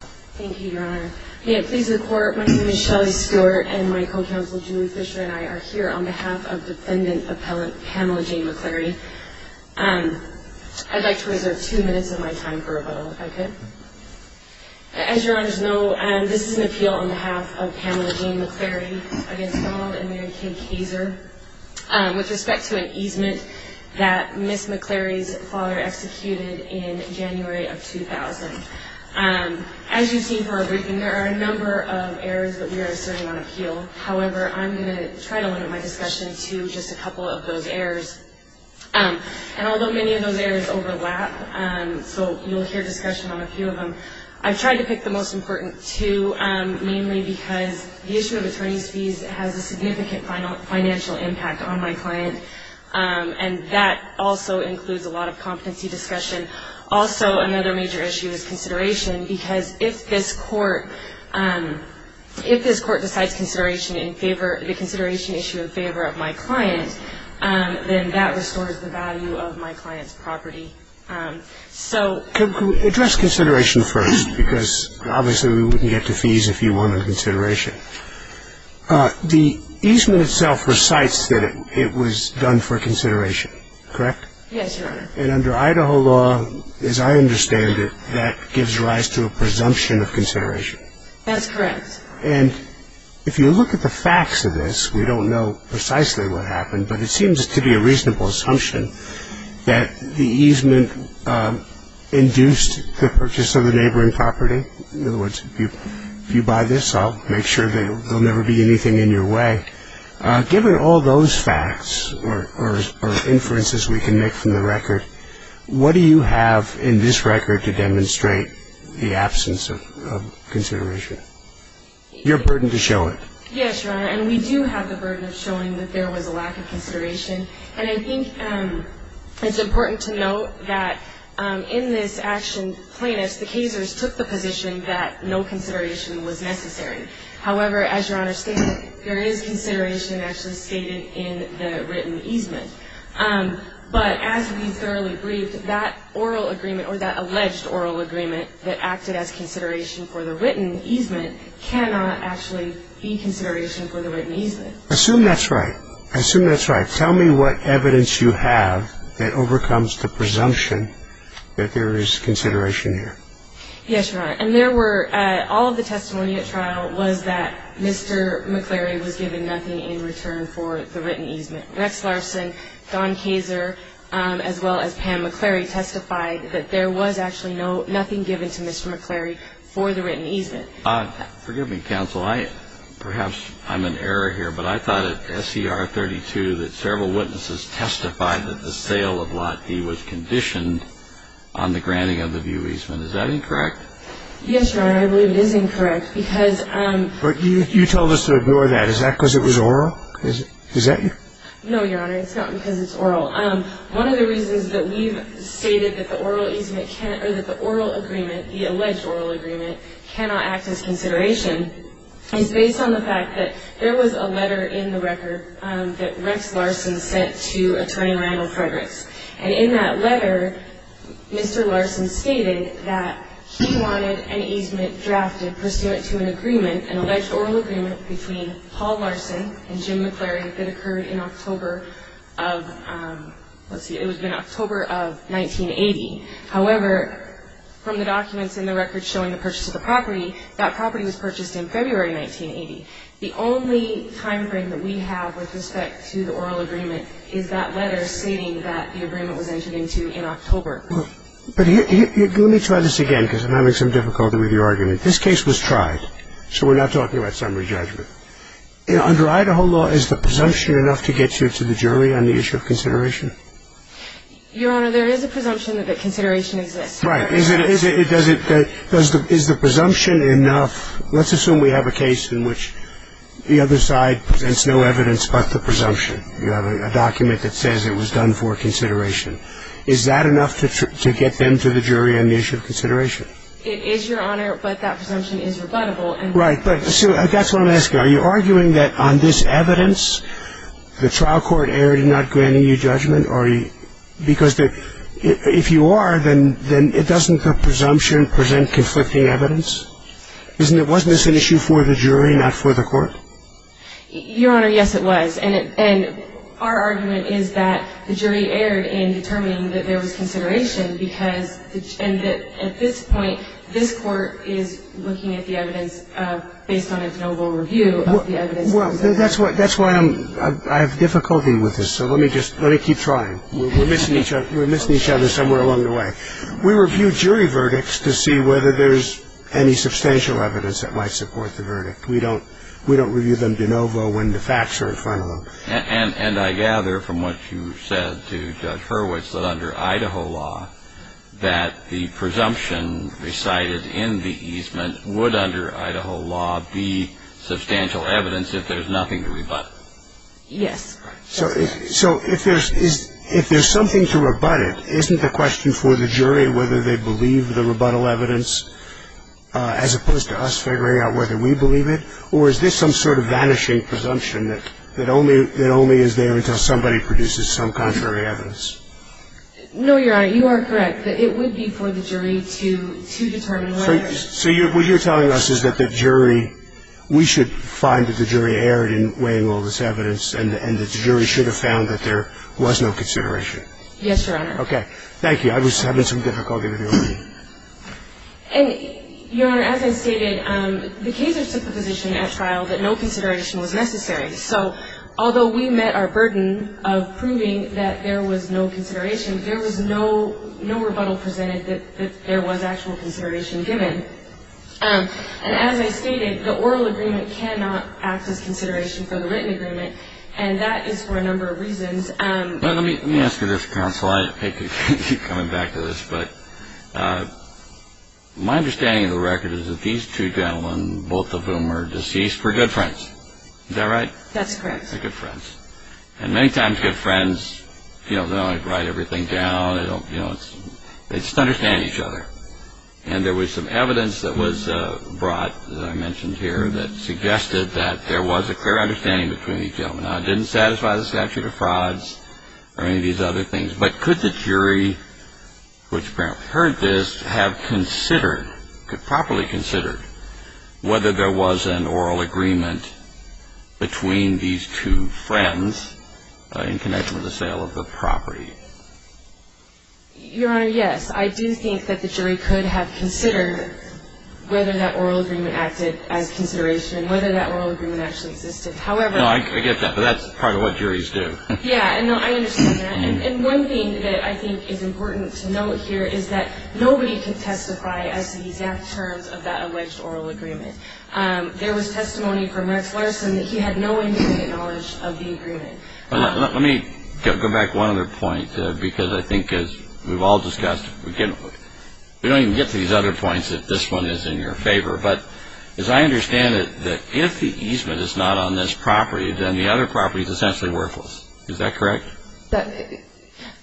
Thank you, your honor. May it please the court, my name is Shelley Stewart and my co-counsel Julie Fisher and I are here on behalf of defendant appellant Pamela Jane McClary. I'd like to reserve two minutes of my time for rebuttal, if I could. As your honors know, this is an appeal on behalf of Pamela Jane McClary against Donald and Mary Kay Kayser with respect to an easement that Ms. McClary's father executed in January of 2000. As you've seen from our briefing, there are a number of errors that we are asserting on appeal. However, I'm going to try to limit my discussion to just a couple of those errors. And although many of those errors overlap, so you'll hear discussion on a few of them, I've tried to pick the most important two mainly because the issue of attorney's fees has a significant financial impact on my client. And that also includes a lot of competency discussion. Also, another major issue is consideration because if this court, if this court decides consideration in favor, the consideration issue in favor of my client, then that restores the value of my client's property. So. Address consideration first because obviously we wouldn't get the fees if you wanted consideration. The easement itself recites that it was done for consideration, correct? Yes, your honor. And under Idaho law, as I understand it, that gives rise to a presumption of consideration. That's correct. And if you look at the facts of this, we don't know precisely what happened, but it seems to be a reasonable assumption that the easement induced the purchase of the neighboring property. In other words, if you buy this, I'll make sure that there'll never be anything in your way. Given all those facts or inferences we can make from the record, what do you have in this record to demonstrate the absence of consideration? Your burden to show it. Yes, your honor. And we do have the burden of showing that there was a lack of consideration. And I think it's important to note that in this action plaintiffs, the casers took the position that no consideration was necessary. However, as your honor stated, there is consideration actually stated in the written easement. But as we thoroughly briefed, that oral agreement or that alleged oral agreement that acted as consideration for the written easement cannot actually be consideration for the written easement. I assume that's right. I assume that's right. Tell me what evidence you have that overcomes the presumption that there is consideration here. Yes, your honor. And there were all of the testimony at trial was that Mr. McCleary was given nothing in return for the written easement. Rex Larson, Don Kaser, as well as Pam McCleary, testified that there was actually nothing given to Mr. McCleary for the written easement. Forgive me, counsel. Perhaps I'm in error here, but I thought at SCR 32 that several witnesses testified that the sale of Lot D was conditioned on the granting of the view easement. Is that incorrect? Yes, your honor. I believe it is incorrect. But you told us to ignore that. Is that because it was oral? No, your honor. It's not because it's oral. One of the reasons that we've stated that the oral agreement, the alleged oral agreement, cannot act as consideration is based on the fact that there was a letter in the record that Rex Larson sent to Attorney Randall Frederick. And in that letter, Mr. Larson stated that he wanted an easement drafted pursuant to an agreement, an alleged oral agreement between Paul Larson and Jim McCleary that occurred in October of 1980. However, from the documents in the record showing the purchase of the property, that property was purchased in February 1980. The only time frame that we have with respect to the oral agreement is that letter stating that the agreement was entered into in October. But let me try this again because I'm having some difficulty with your argument. This case was tried, so we're not talking about summary judgment. Under Idaho law, is the presumption enough to get you to the jury on the issue of consideration? Your honor, there is a presumption that consideration exists. Right. Is the presumption enough? Let's assume we have a case in which the other side presents no evidence but the presumption. You have a document that says it was done for consideration. Is that enough to get them to the jury on the issue of consideration? It is, your honor, but that presumption is rebuttable. Right. But that's what I'm asking. Are you arguing that on this evidence, the trial court erred in not granting you judgment? Because if you are, then doesn't the presumption present conflicting evidence? Wasn't this an issue for the jury, not for the court? Your honor, yes, it was. And our argument is that the jury erred in determining that there was consideration because at this point, this court is looking at the evidence based on its noble review of the evidence. Well, that's why I have difficulty with this, so let me keep trying. We're missing each other somewhere along the way. We review jury verdicts to see whether there's any substantial evidence that might support the verdict. We don't review them de novo when the facts are in front of them. And I gather from what you said to Judge Hurwitz that under Idaho law that the presumption recited in the easement would under Idaho law be substantial evidence if there's nothing to rebut. Yes. So if there's something to rebut it, isn't the question for the jury whether they believe the rebuttal evidence, as opposed to us figuring out whether we believe it, or is this some sort of vanishing presumption that only is there until somebody produces some contrary evidence? No, Your Honor, you are correct. It would be for the jury to determine whether. So what you're telling us is that the jury, we should find that the jury erred in weighing all this evidence and that the jury should have found that there was no consideration. Yes, Your Honor. Okay. Thank you. I was having some difficulty with your reading. And, Your Honor, as I stated, the casers took the position at trial that no consideration was necessary. So although we met our burden of proving that there was no consideration, there was no rebuttal presented that there was actual consideration given. And as I stated, the oral agreement cannot act as consideration for the written agreement, and that is for a number of reasons. Let me ask you this, counsel. I hate to keep coming back to this, but my understanding of the record is that these two gentlemen, both of whom are deceased, were good friends. Is that right? That's correct. They're good friends. And many times good friends, you know, they don't write everything down. You know, they just understand each other. And there was some evidence that was brought, as I mentioned here, that suggested that there was a clear understanding between these gentlemen. Now, it didn't satisfy the statute of frauds or any of these other things, but could the jury, which apparently heard this, have considered, properly considered, whether there was an oral agreement between these two friends in connection with the sale of the property? Your Honor, yes. I do think that the jury could have considered whether that oral agreement acted as consideration, whether that oral agreement actually existed. No, I get that, but that's part of what juries do. Yeah, and I understand that. And one thing that I think is important to note here is that nobody can testify as to the exact terms of that alleged oral agreement. There was testimony from Rex Larson that he had no immediate knowledge of the agreement. Let me go back one other point, because I think, as we've all discussed, we don't even get to these other points if this one is in your favor. But as I understand it, if the easement is not on this property, then the other property is essentially worthless. Is that correct?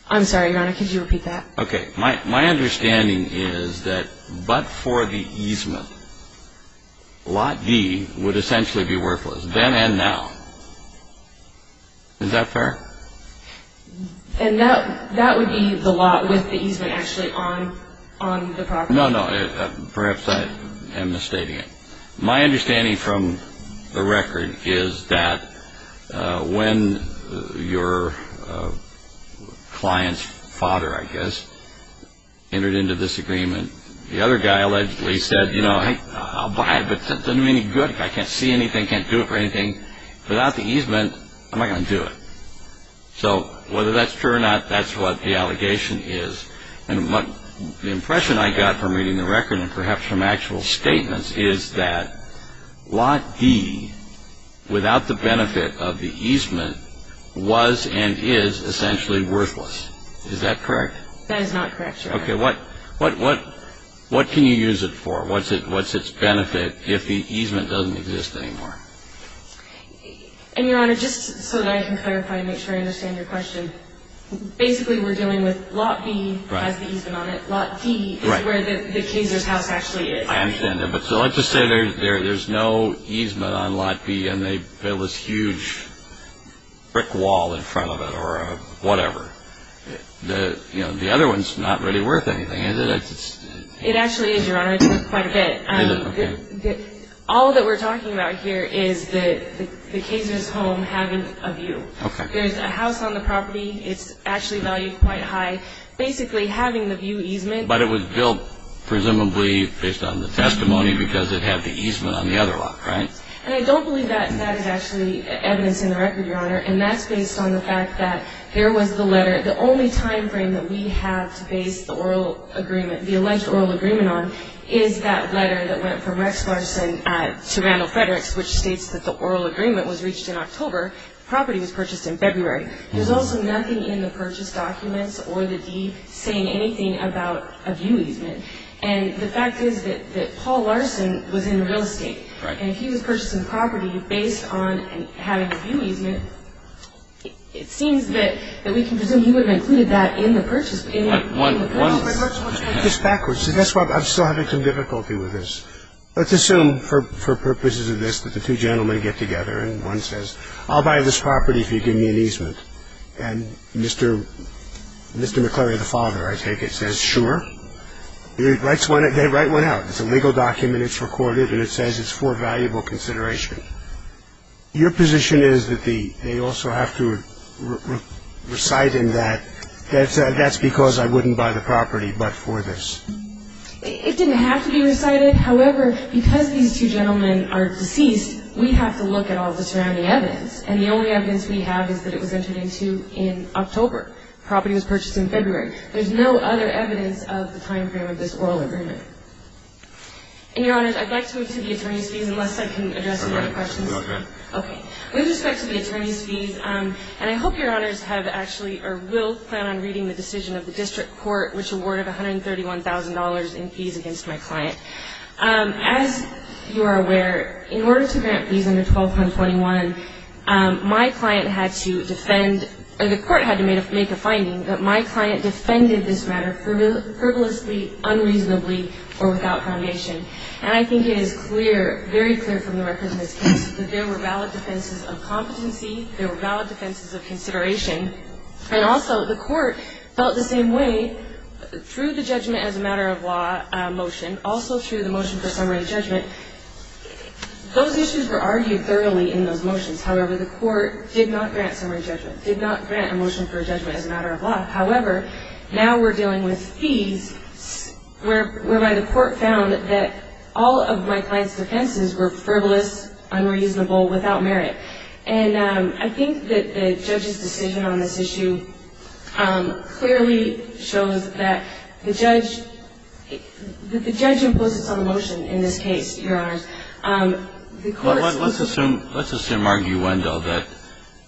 I'm sorry, Your Honor. Could you repeat that? Okay. My understanding is that but for the easement, Lot D would essentially be worthless then and now. Is that fair? And that would be the lot with the easement actually on the property? No, no. Perhaps I am misstating it. My understanding from the record is that when your client's father, I guess, entered into this agreement, the other guy allegedly said, you know, I'll buy it, but it doesn't do me any good. I can't see anything, can't do it for anything. Without the easement, I'm not going to do it. So whether that's true or not, that's what the allegation is. And the impression I got from reading the record and perhaps from actual statements is that Lot D, without the benefit of the easement, was and is essentially worthless. Is that correct? That is not correct, Your Honor. Okay. What can you use it for? What's its benefit if the easement doesn't exist anymore? And, Your Honor, just so that I can clarify and make sure I understand your question, basically we're dealing with Lot B has the easement on it. Lot D is where the Kayser's house actually is. I understand that. But so let's just say there's no easement on Lot B and they build this huge brick wall in front of it or whatever. You know, the other one's not really worth anything, is it? It actually is, Your Honor. I talked about it quite a bit. All that we're talking about here is the Kayser's home having a view. Okay. There's a house on the property. It's actually valued quite high. Basically having the view easement. But it was built presumably based on the testimony because it had the easement on the other lot, right? And I don't believe that that is actually evidence in the record, Your Honor, and that's based on the fact that there was the letter. The only time frame that we have to base the oral agreement, the alleged oral agreement on, is that letter that went from Rex Larson to Randall Fredericks, which states that the oral agreement was reached in October, the property was purchased in February. There's also nothing in the purchase documents or the deed saying anything about a view easement. And the fact is that Paul Larson was in real estate. Right. And if he was purchasing the property based on having a view easement, it seems that we can presume he would have included that in the purchase. One, one, one. It's backwards. That's why I'm still having some difficulty with this. Let's assume for purposes of this that the two gentlemen get together and one says, I'll buy this property if you give me an easement. And Mr. McClary, the father, I take it, says, sure. He writes one, they write one out. It's a legal document, it's recorded, and it says it's for valuable consideration. Your position is that they also have to recite in that, that's because I wouldn't buy the property but for this. It didn't have to be recited. However, because these two gentlemen are deceased, we have to look at all the surrounding evidence, and the only evidence we have is that it was entered into in October. The property was purchased in February. There's no other evidence of the time frame of this oral agreement. And, Your Honors, I'd like to move to the attorney's fees unless I can address any other questions. Okay. Okay. With respect to the attorney's fees, and I hope Your Honors have actually or will plan on reading the decision of the district court, which awarded $131,000 in fees against my client. As you are aware, in order to grant fees under 12-121, my client had to defend, the court had to make a finding that my client defended this matter frivolously, unreasonably, or without foundation. And I think it is clear, very clear from the record in this case, that there were valid defenses of competency, there were valid defenses of consideration, and also the court felt the same way through the judgment as a matter of law motion, also through the motion for summary judgment. Those issues were argued thoroughly in those motions. However, the court did not grant summary judgment, did not grant a motion for judgment as a matter of law. However, now we're dealing with fees whereby the court found that all of my client's defenses were frivolous, unreasonable, without merit. And I think that the judge's decision on this issue clearly shows that the judge, that the judge imposes on the motion in this case, Your Honors. Let's assume, let's assume arguendo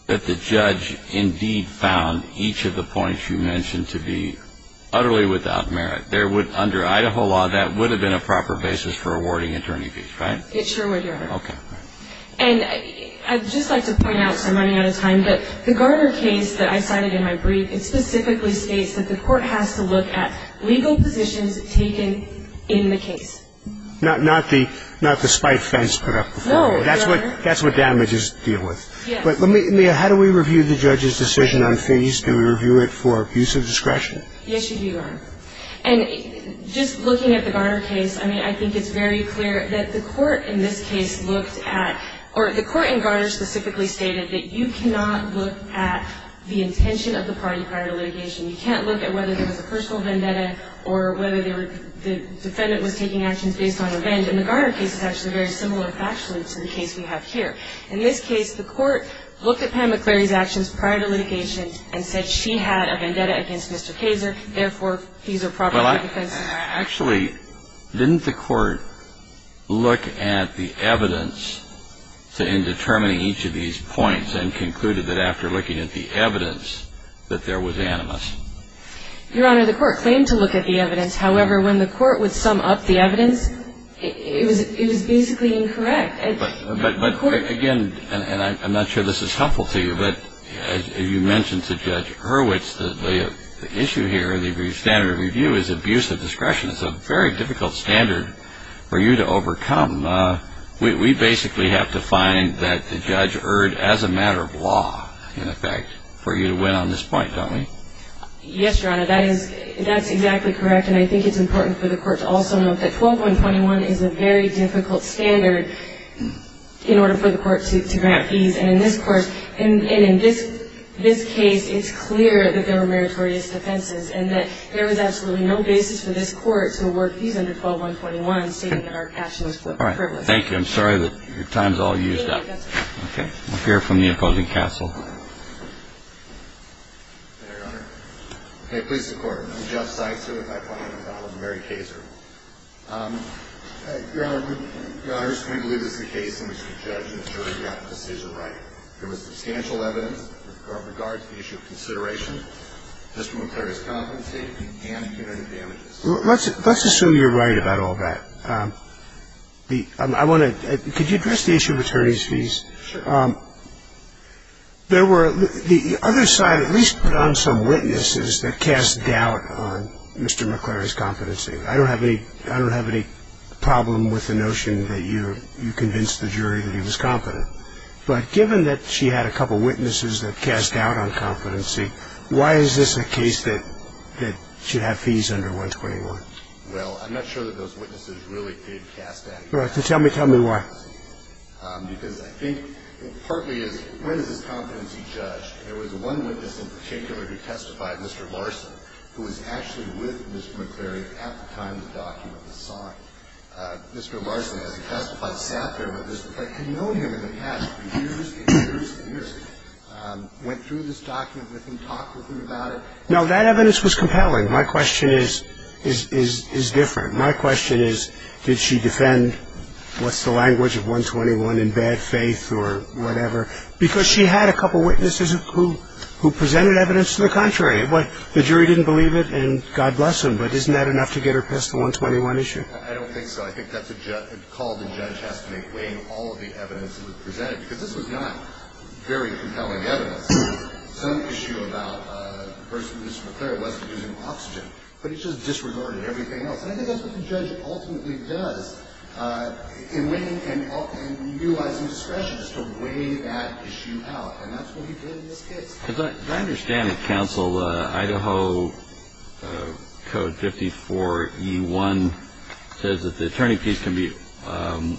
that the judge indeed found each of the points you mentioned to be utterly without merit. There would, under Idaho law, that would have been a proper basis for awarding attorney fees, right? It sure would, Your Honor. Okay. And I'd just like to point out, so I'm running out of time, but the Garner case that I cited in my brief, it specifically states that the court has to look at legal positions taken in the case. Not the spite fence put up before you. No, Your Honor. That's what damages deal with. Yes. But how do we review the judge's decision on fees? Do we review it for abuse of discretion? Yes, you do, Your Honor. And just looking at the Garner case, I mean, I think it's very clear that the court in this case looked at, or the court in Garner specifically stated that you cannot look at the intention of the party prior to litigation. You can't look at whether there was a personal vendetta or whether the defendant was taking actions based on a vend. And the Garner case is actually very similar factually to the case we have here. In this case, the court looked at Pam McCleary's actions prior to litigation and said she had a vendetta against Mr. Kaser. Therefore, fees are proper for defense. Well, actually, didn't the court look at the evidence in determining each of these points and concluded that after looking at the evidence that there was animus? Your Honor, the court claimed to look at the evidence. However, when the court would sum up the evidence, it was basically incorrect. But again, and I'm not sure this is helpful to you, but as you mentioned to Judge Hurwitz, the issue here in the standard of review is abuse of discretion. It's a very difficult standard for you to overcome. We basically have to find that the judge erred as a matter of law, in effect, for you to win on this point, don't we? Yes, Your Honor, that is exactly correct. And I think it's important for the court to also note that 12.21 is a very difficult standard in order for the court to grant fees. And in this case, it's clear that there were meritorious defenses and that there was absolutely no basis for this court to award fees under 12.21, stating that our cash was privileged. All right. Thank you. I'm sorry that your time is all used up. Okay. We'll hear from the opposing counsel. Your Honor. Okay. Please support. I'm Jeff Seitzer. If I may follow. I'm Mary Kaser. Your Honor, I just can't believe this is the case in which the judge and jury got the decision right. There was substantial evidence with regard to the issue of consideration, Mr. McClary's competency and punitive damages. Let's assume you're right about all that. I want to – could you address the issue of attorneys' fees? Sure. There were – the other side at least put on some witnesses that cast doubt on Mr. McClary's competency. I don't have any problem with the notion that you convinced the jury that he was competent. But given that she had a couple witnesses that cast doubt on competency, why is this a case that should have fees under 121? Well, I'm not sure that those witnesses really did cast doubt. All right. Then tell me why. Because I think it partly is when is this competency judged? There was one witness in particular who testified, Mr. Larson, who was actually with Mr. McClary at the time the document was signed. Mr. Larson, as he testified, sat there with Mr. McClary. He knew him in the past for years and years and years. Went through this document with him, talked with him about it. No, that evidence was compelling. My question is – is different. My question is did she defend what's the language of 121 in bad faith or whatever? Because she had a couple witnesses who presented evidence to the contrary. The jury didn't believe it, and God bless them. But isn't that enough to get her past the 121 issue? I don't think so. I think that's a call the judge has to make, weighing all of the evidence that was presented. Because this was not very compelling evidence. Some issue about the person, Mr. McClary, wasn't using oxygen. But he just disregarded everything else. And I think that's what the judge ultimately does in weighing and utilizing discretion is to weigh that issue out. And that's what he did in this case. Because I understand that counsel, Idaho Code 54E1 says that the attorney piece can be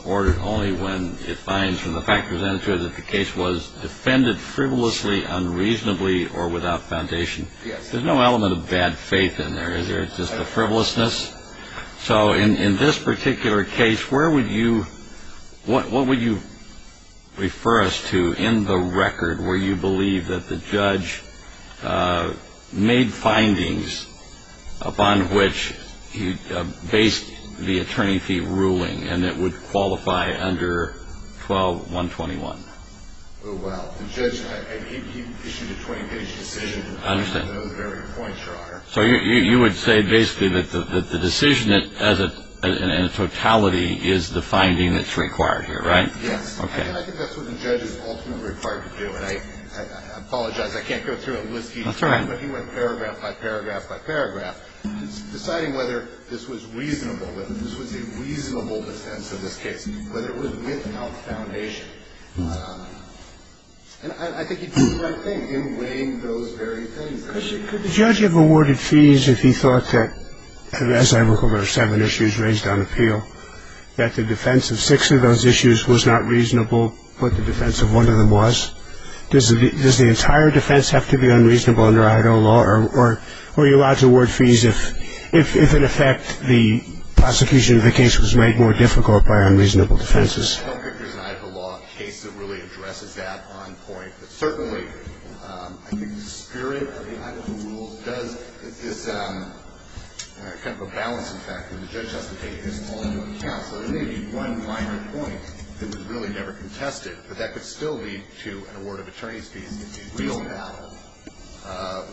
ordered only when it finds, from the fact presented to it, that the case was defended frivolously, unreasonably, or without foundation. There's no element of bad faith in there. There's just a frivolousness. So in this particular case, where would you – what would you refer us to in the record where you believe that the judge made findings upon which he based the attorney fee ruling and it would qualify under 12-121? Well, the judge issued a 20-page decision on those very points, Your Honor. So you would say basically that the decision in totality is the finding that's required here, right? Yes. Okay. And I think that's what the judge is ultimately required to do. And I apologize. I can't go through it with you. That's all right. But he went paragraph by paragraph by paragraph deciding whether this was reasonable, whether this was a reasonable defense in this case, whether it was without foundation. And I think he did the right thing in weighing those very things. Could the judge have awarded fees if he thought that, as I recall, there were seven issues raised on appeal, that the defense of six of those issues was not reasonable but the defense of one of them was? Does the entire defense have to be unreasonable under Idaho law? Or are you allowed to award fees if, in effect, the prosecution of the case was made more difficult by unreasonable defenses? I don't think there's an Idaho law case that really addresses that on point. Certainly, I think the spirit of the Idaho rules does this kind of a balancing factor. The judge has to take this all into account. So there may be one minor point that was really never contested, but that could still lead to an award of attorney's fees if the real battle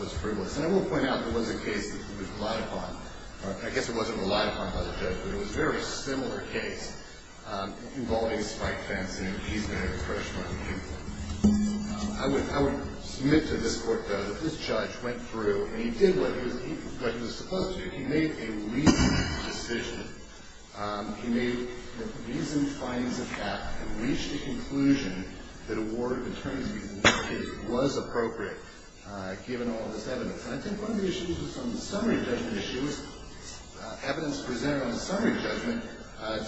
was frivolous. And I will point out there was a case that was relied upon. I guess it wasn't relied upon by the judge, but it was a very similar case involving Spike Fentz, and he's been a freshman. I would submit to this court, though, that this judge went through and he did what he was supposed to do. He made a reasoned decision. He made reasoned findings of that and reached a conclusion that award of attorney's fees was appropriate given all this evidence. And I think one of the issues was some summary judgment issues. Evidence presented on a summary judgment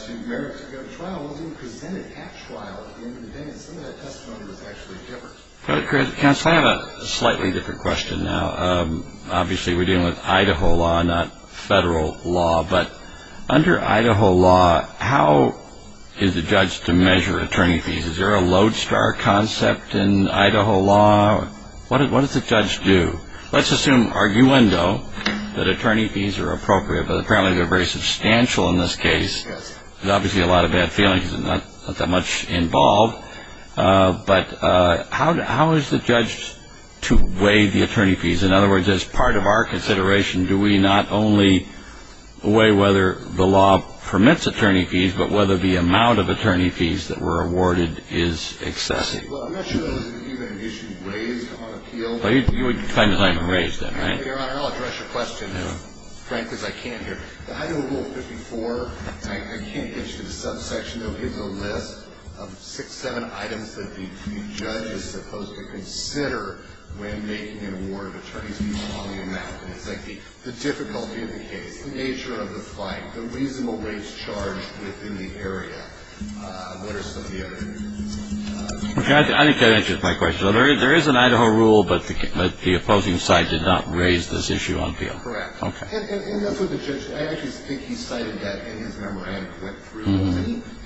to merit to go to trial wasn't even presented at trial at the end of the day, and some of that testimony was actually different. I have a slightly different question now. Obviously, we're dealing with Idaho law, not federal law. But under Idaho law, how is a judge to measure attorney fees? Is there a lodestar concept in Idaho law? What does a judge do? Let's assume, arguendo, that attorney fees are appropriate, but apparently they're very substantial in this case. There's obviously a lot of bad feelings and not that much involved. But how is the judge to weigh the attorney fees? In other words, as part of our consideration, do we not only weigh whether the law permits attorney fees, but whether the amount of attorney fees that were awarded is excessive? Well, I'm not sure that was even an issue raised on appeal. But you would define as I haven't raised that, right? Your Honor, I'll address your question, Frank, because I can't hear. The Idaho Rule 54, I can't get you to the subsection. It gives a list of six, seven items that the judge is supposed to consider when making an award of attorney's fees on the amount. And it's like the difficulty of the case, the nature of the fight, the reasonable rates charged within the area. What are some of the other things? I think that answers my question. There is an Idaho Rule, but the opposing side did not raise this issue on appeal. Correct. Okay. And that's what the judge did. I actually think he cited that in his memo and it went through.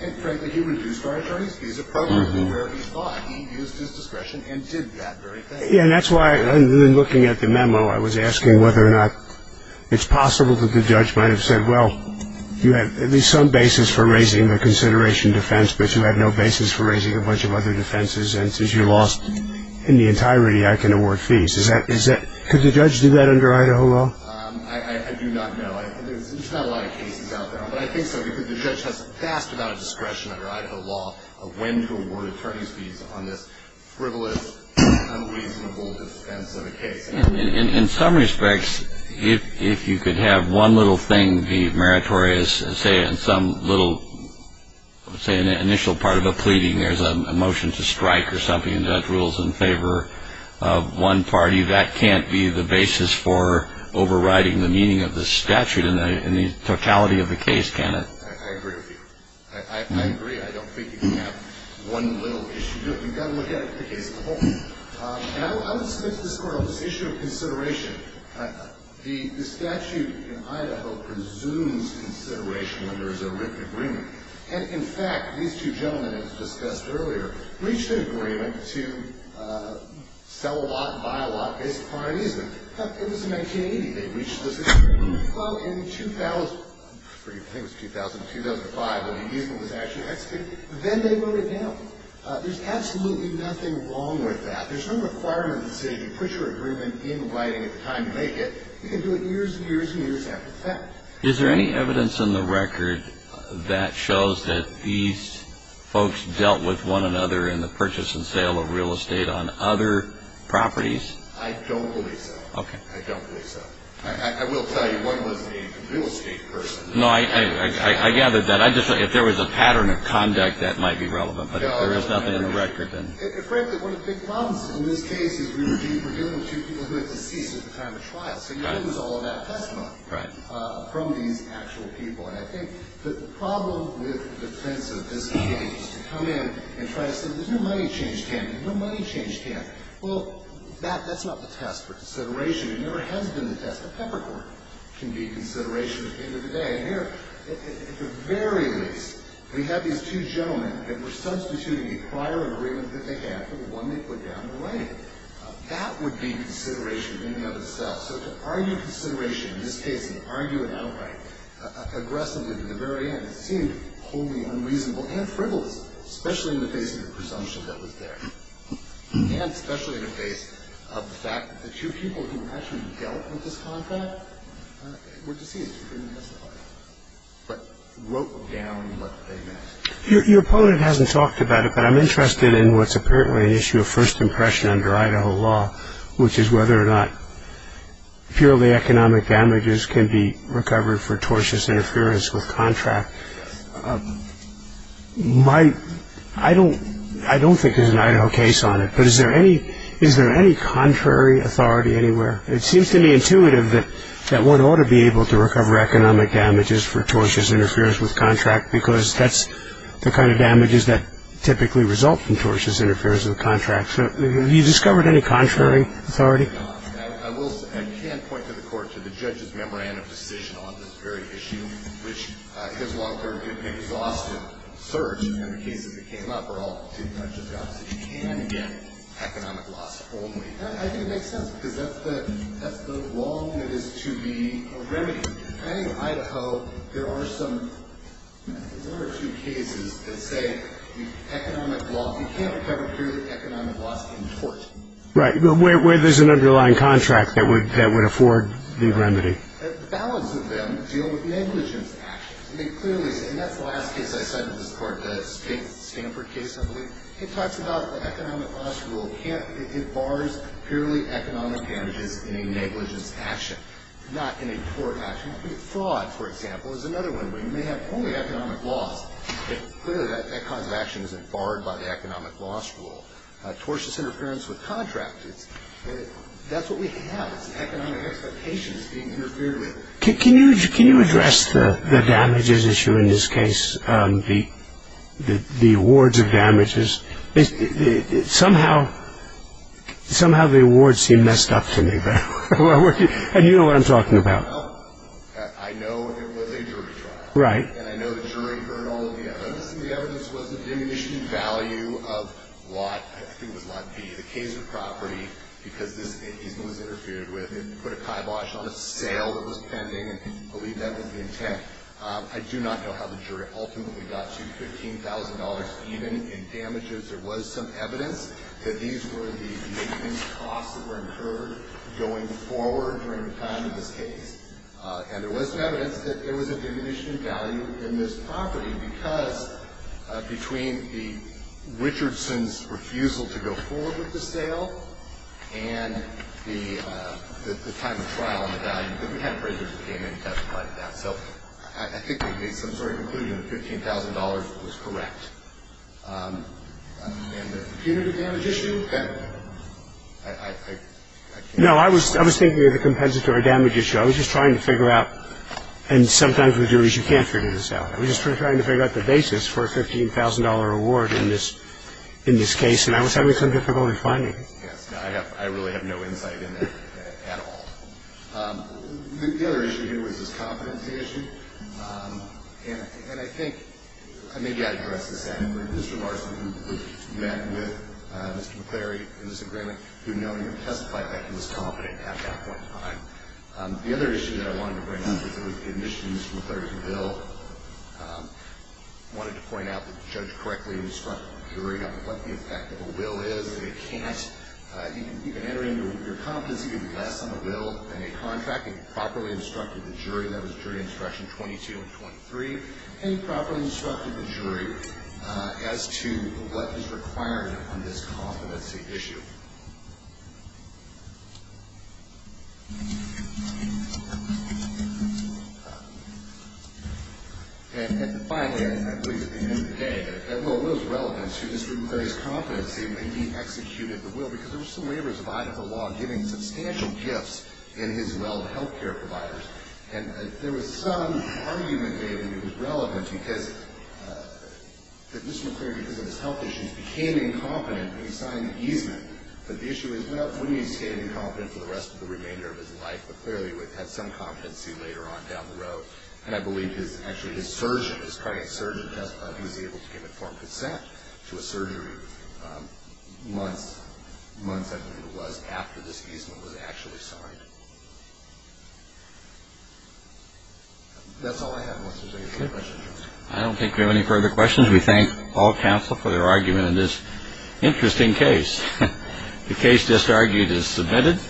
And, frankly, he reduced our attorney's fees appropriately where he thought. He used his discretion and did that very thing. Yeah, and that's why, in looking at the memo, I was asking whether or not it's possible that the judge might have said, well, you have at least some basis for raising the consideration defense, but you have no basis for raising a bunch of other defenses, and since you lost in the entirety, I can award fees. Could the judge do that under Idaho law? I do not know. There's not a lot of cases out there, but I think so, because the judge has a vast amount of discretion under Idaho law of when to award attorney's fees on this frivolous, unreasonable defense of a case. In some respects, if you could have one little thing, the meritorious, say in some little initial part of a pleading there's a motion to strike or something, and the judge rules in favor of one party, that can't be the basis for overriding the meaning of the statute in the totality of the case, can it? I agree with you. I agree. I don't think you can have one little issue. You've got to look at it as a whole. I would submit to this Court on this issue of consideration. The statute in Idaho presumes consideration when there is a written agreement, and, in fact, these two gentlemen, as discussed earlier, reached an agreement to sell a lot and buy a lot based upon an easement. It was in 1980 they reached this agreement. Well, in 2000, I forget, I think it was 2000, 2005, when the easement was actually executed, then they wrote it down. There's absolutely nothing wrong with that. There's no requirement in the statute to put your agreement in writing at the time you make it. You can do it years and years and years after the fact. Is there any evidence in the record that shows that these folks dealt with one another in the purchase and sale of real estate on other properties? I don't believe so. Okay. I don't believe so. I will tell you one was a real estate person. No, I gathered that. If there was a pattern of conduct, that might be relevant, but if there is nothing in the record, then. Frankly, one of the big problems in this case is we were dealing with two people who had deceased at the time of trial, so you lose all of that testimony from these actual people. And I think the problem with the defense of this case is to come in and try to say there's no money change campaign, no money change campaign. Well, that's not the test for consideration. It never has been the test. A peppercorn can be consideration at the end of the day. At the very least, we have these two gentlemen that were substituting a prior agreement that they had for the one they put down in writing. That would be consideration in and of itself. So to argue consideration in this case and argue it outright aggressively to the very end, it seemed wholly unreasonable and frivolous, especially in the face of the presumption that was there. And especially in the face of the fact that the two people who actually dealt with this contract were deceased. But wrote down what they meant. Your opponent hasn't talked about it, but I'm interested in what's apparently an issue of first impression under Idaho law, which is whether or not purely economic damages can be recovered for tortious interference with contract. I don't think there's an Idaho case on it, but is there any contrary authority anywhere? It seems to me intuitive that one ought to be able to recover economic damages for tortious interference with contract because that's the kind of damages that typically result from tortious interference with contract. So have you discovered any contrary authority? I can't point to the court, to the judge's memorandum of decision on this very issue, which his long, exhaustive search and the cases that came up are all too much. You can get economic loss only. I think it makes sense because that's the law that is to be remedied. I think Idaho, there are some, there are two cases that say economic loss, you can't recover purely economic loss in tort. Right, but where there's an underlying contract that would afford the remedy. The balance of them deal with negligence actions. I mean, clearly, and that's the last case I cited in this court, the Stanford case, I believe. It talks about the economic loss rule. It bars purely economic damages in a negligence action, not in a tort action. Fraud, for example, is another one where you may have only economic loss. Clearly, that kind of action isn't barred by the economic loss rule. Tortious interference with contract, that's what we have. It's economic expectations being interfered with. Can you address the damages issue in this case, the awards of damages? Somehow the awards seem messed up to me. And you know what I'm talking about. I know it was a jury trial. Right. And I know the jury heard all of the evidence. The evidence was a diminishing value of what I think was Lot B, the case of property, because this was interfered with and put a kibosh on a sale that was pending, and I believe that was the intent. I do not know how the jury ultimately got to $15,000 even in damages. There was some evidence that these were the maintenance costs that were incurred going forward during the time of this case. And there was some evidence that there was a diminishing value in this property because between the Richardson's refusal to go forward with the sale and the time of trial and the value, we had appraisers that came in and testified to that. So I think they made some sort of conclusion that $15,000 was correct. And the punitive damage issue, I can't answer that. No, I was thinking of the compensatory damage issue. I was just trying to figure out, and sometimes with juries you can't figure this out. I was just trying to figure out the basis for a $15,000 reward in this case, and I was having some difficulty finding it. Yes. I really have no insight in that at all. The other issue here was this competency issue. And I think maybe I addressed this after Mr. Varsity, who met with Mr. McClary in this agreement, who knowingly testified that he was competent at that point in time. The other issue that I wanted to bring up was the admissions from the 13th bill. I wanted to point out that the judge correctly instructed the jury on what the effect of a will is. They can't. You can enter into your competency with less on a will than a contract. He properly instructed the jury. That was jury instruction 22 and 23. And he properly instructed the jury as to what is required on this competency issue. And finally, I believe at the end of the day, that will was relevant to Mr. McClary's competency when he executed the will, because there were some waivers of Idaho law giving substantial gifts in his will to health care providers. And there was some argument made that it was relevant because Mr. McClary, because of his health issues, became incompetent when he signed the easement. But the issue is not only did he stay incompetent for the rest of the remainder of his life, but clearly he had some competency later on down the road. And I believe his surgeon, his cardiac surgeon testified he was able to give informed consent to a surgery months, after this easement was actually signed. That's all I have unless there's any further questions. I don't think we have any further questions. We thank all counsel for their argument in this interesting case. The case just argued is submitted.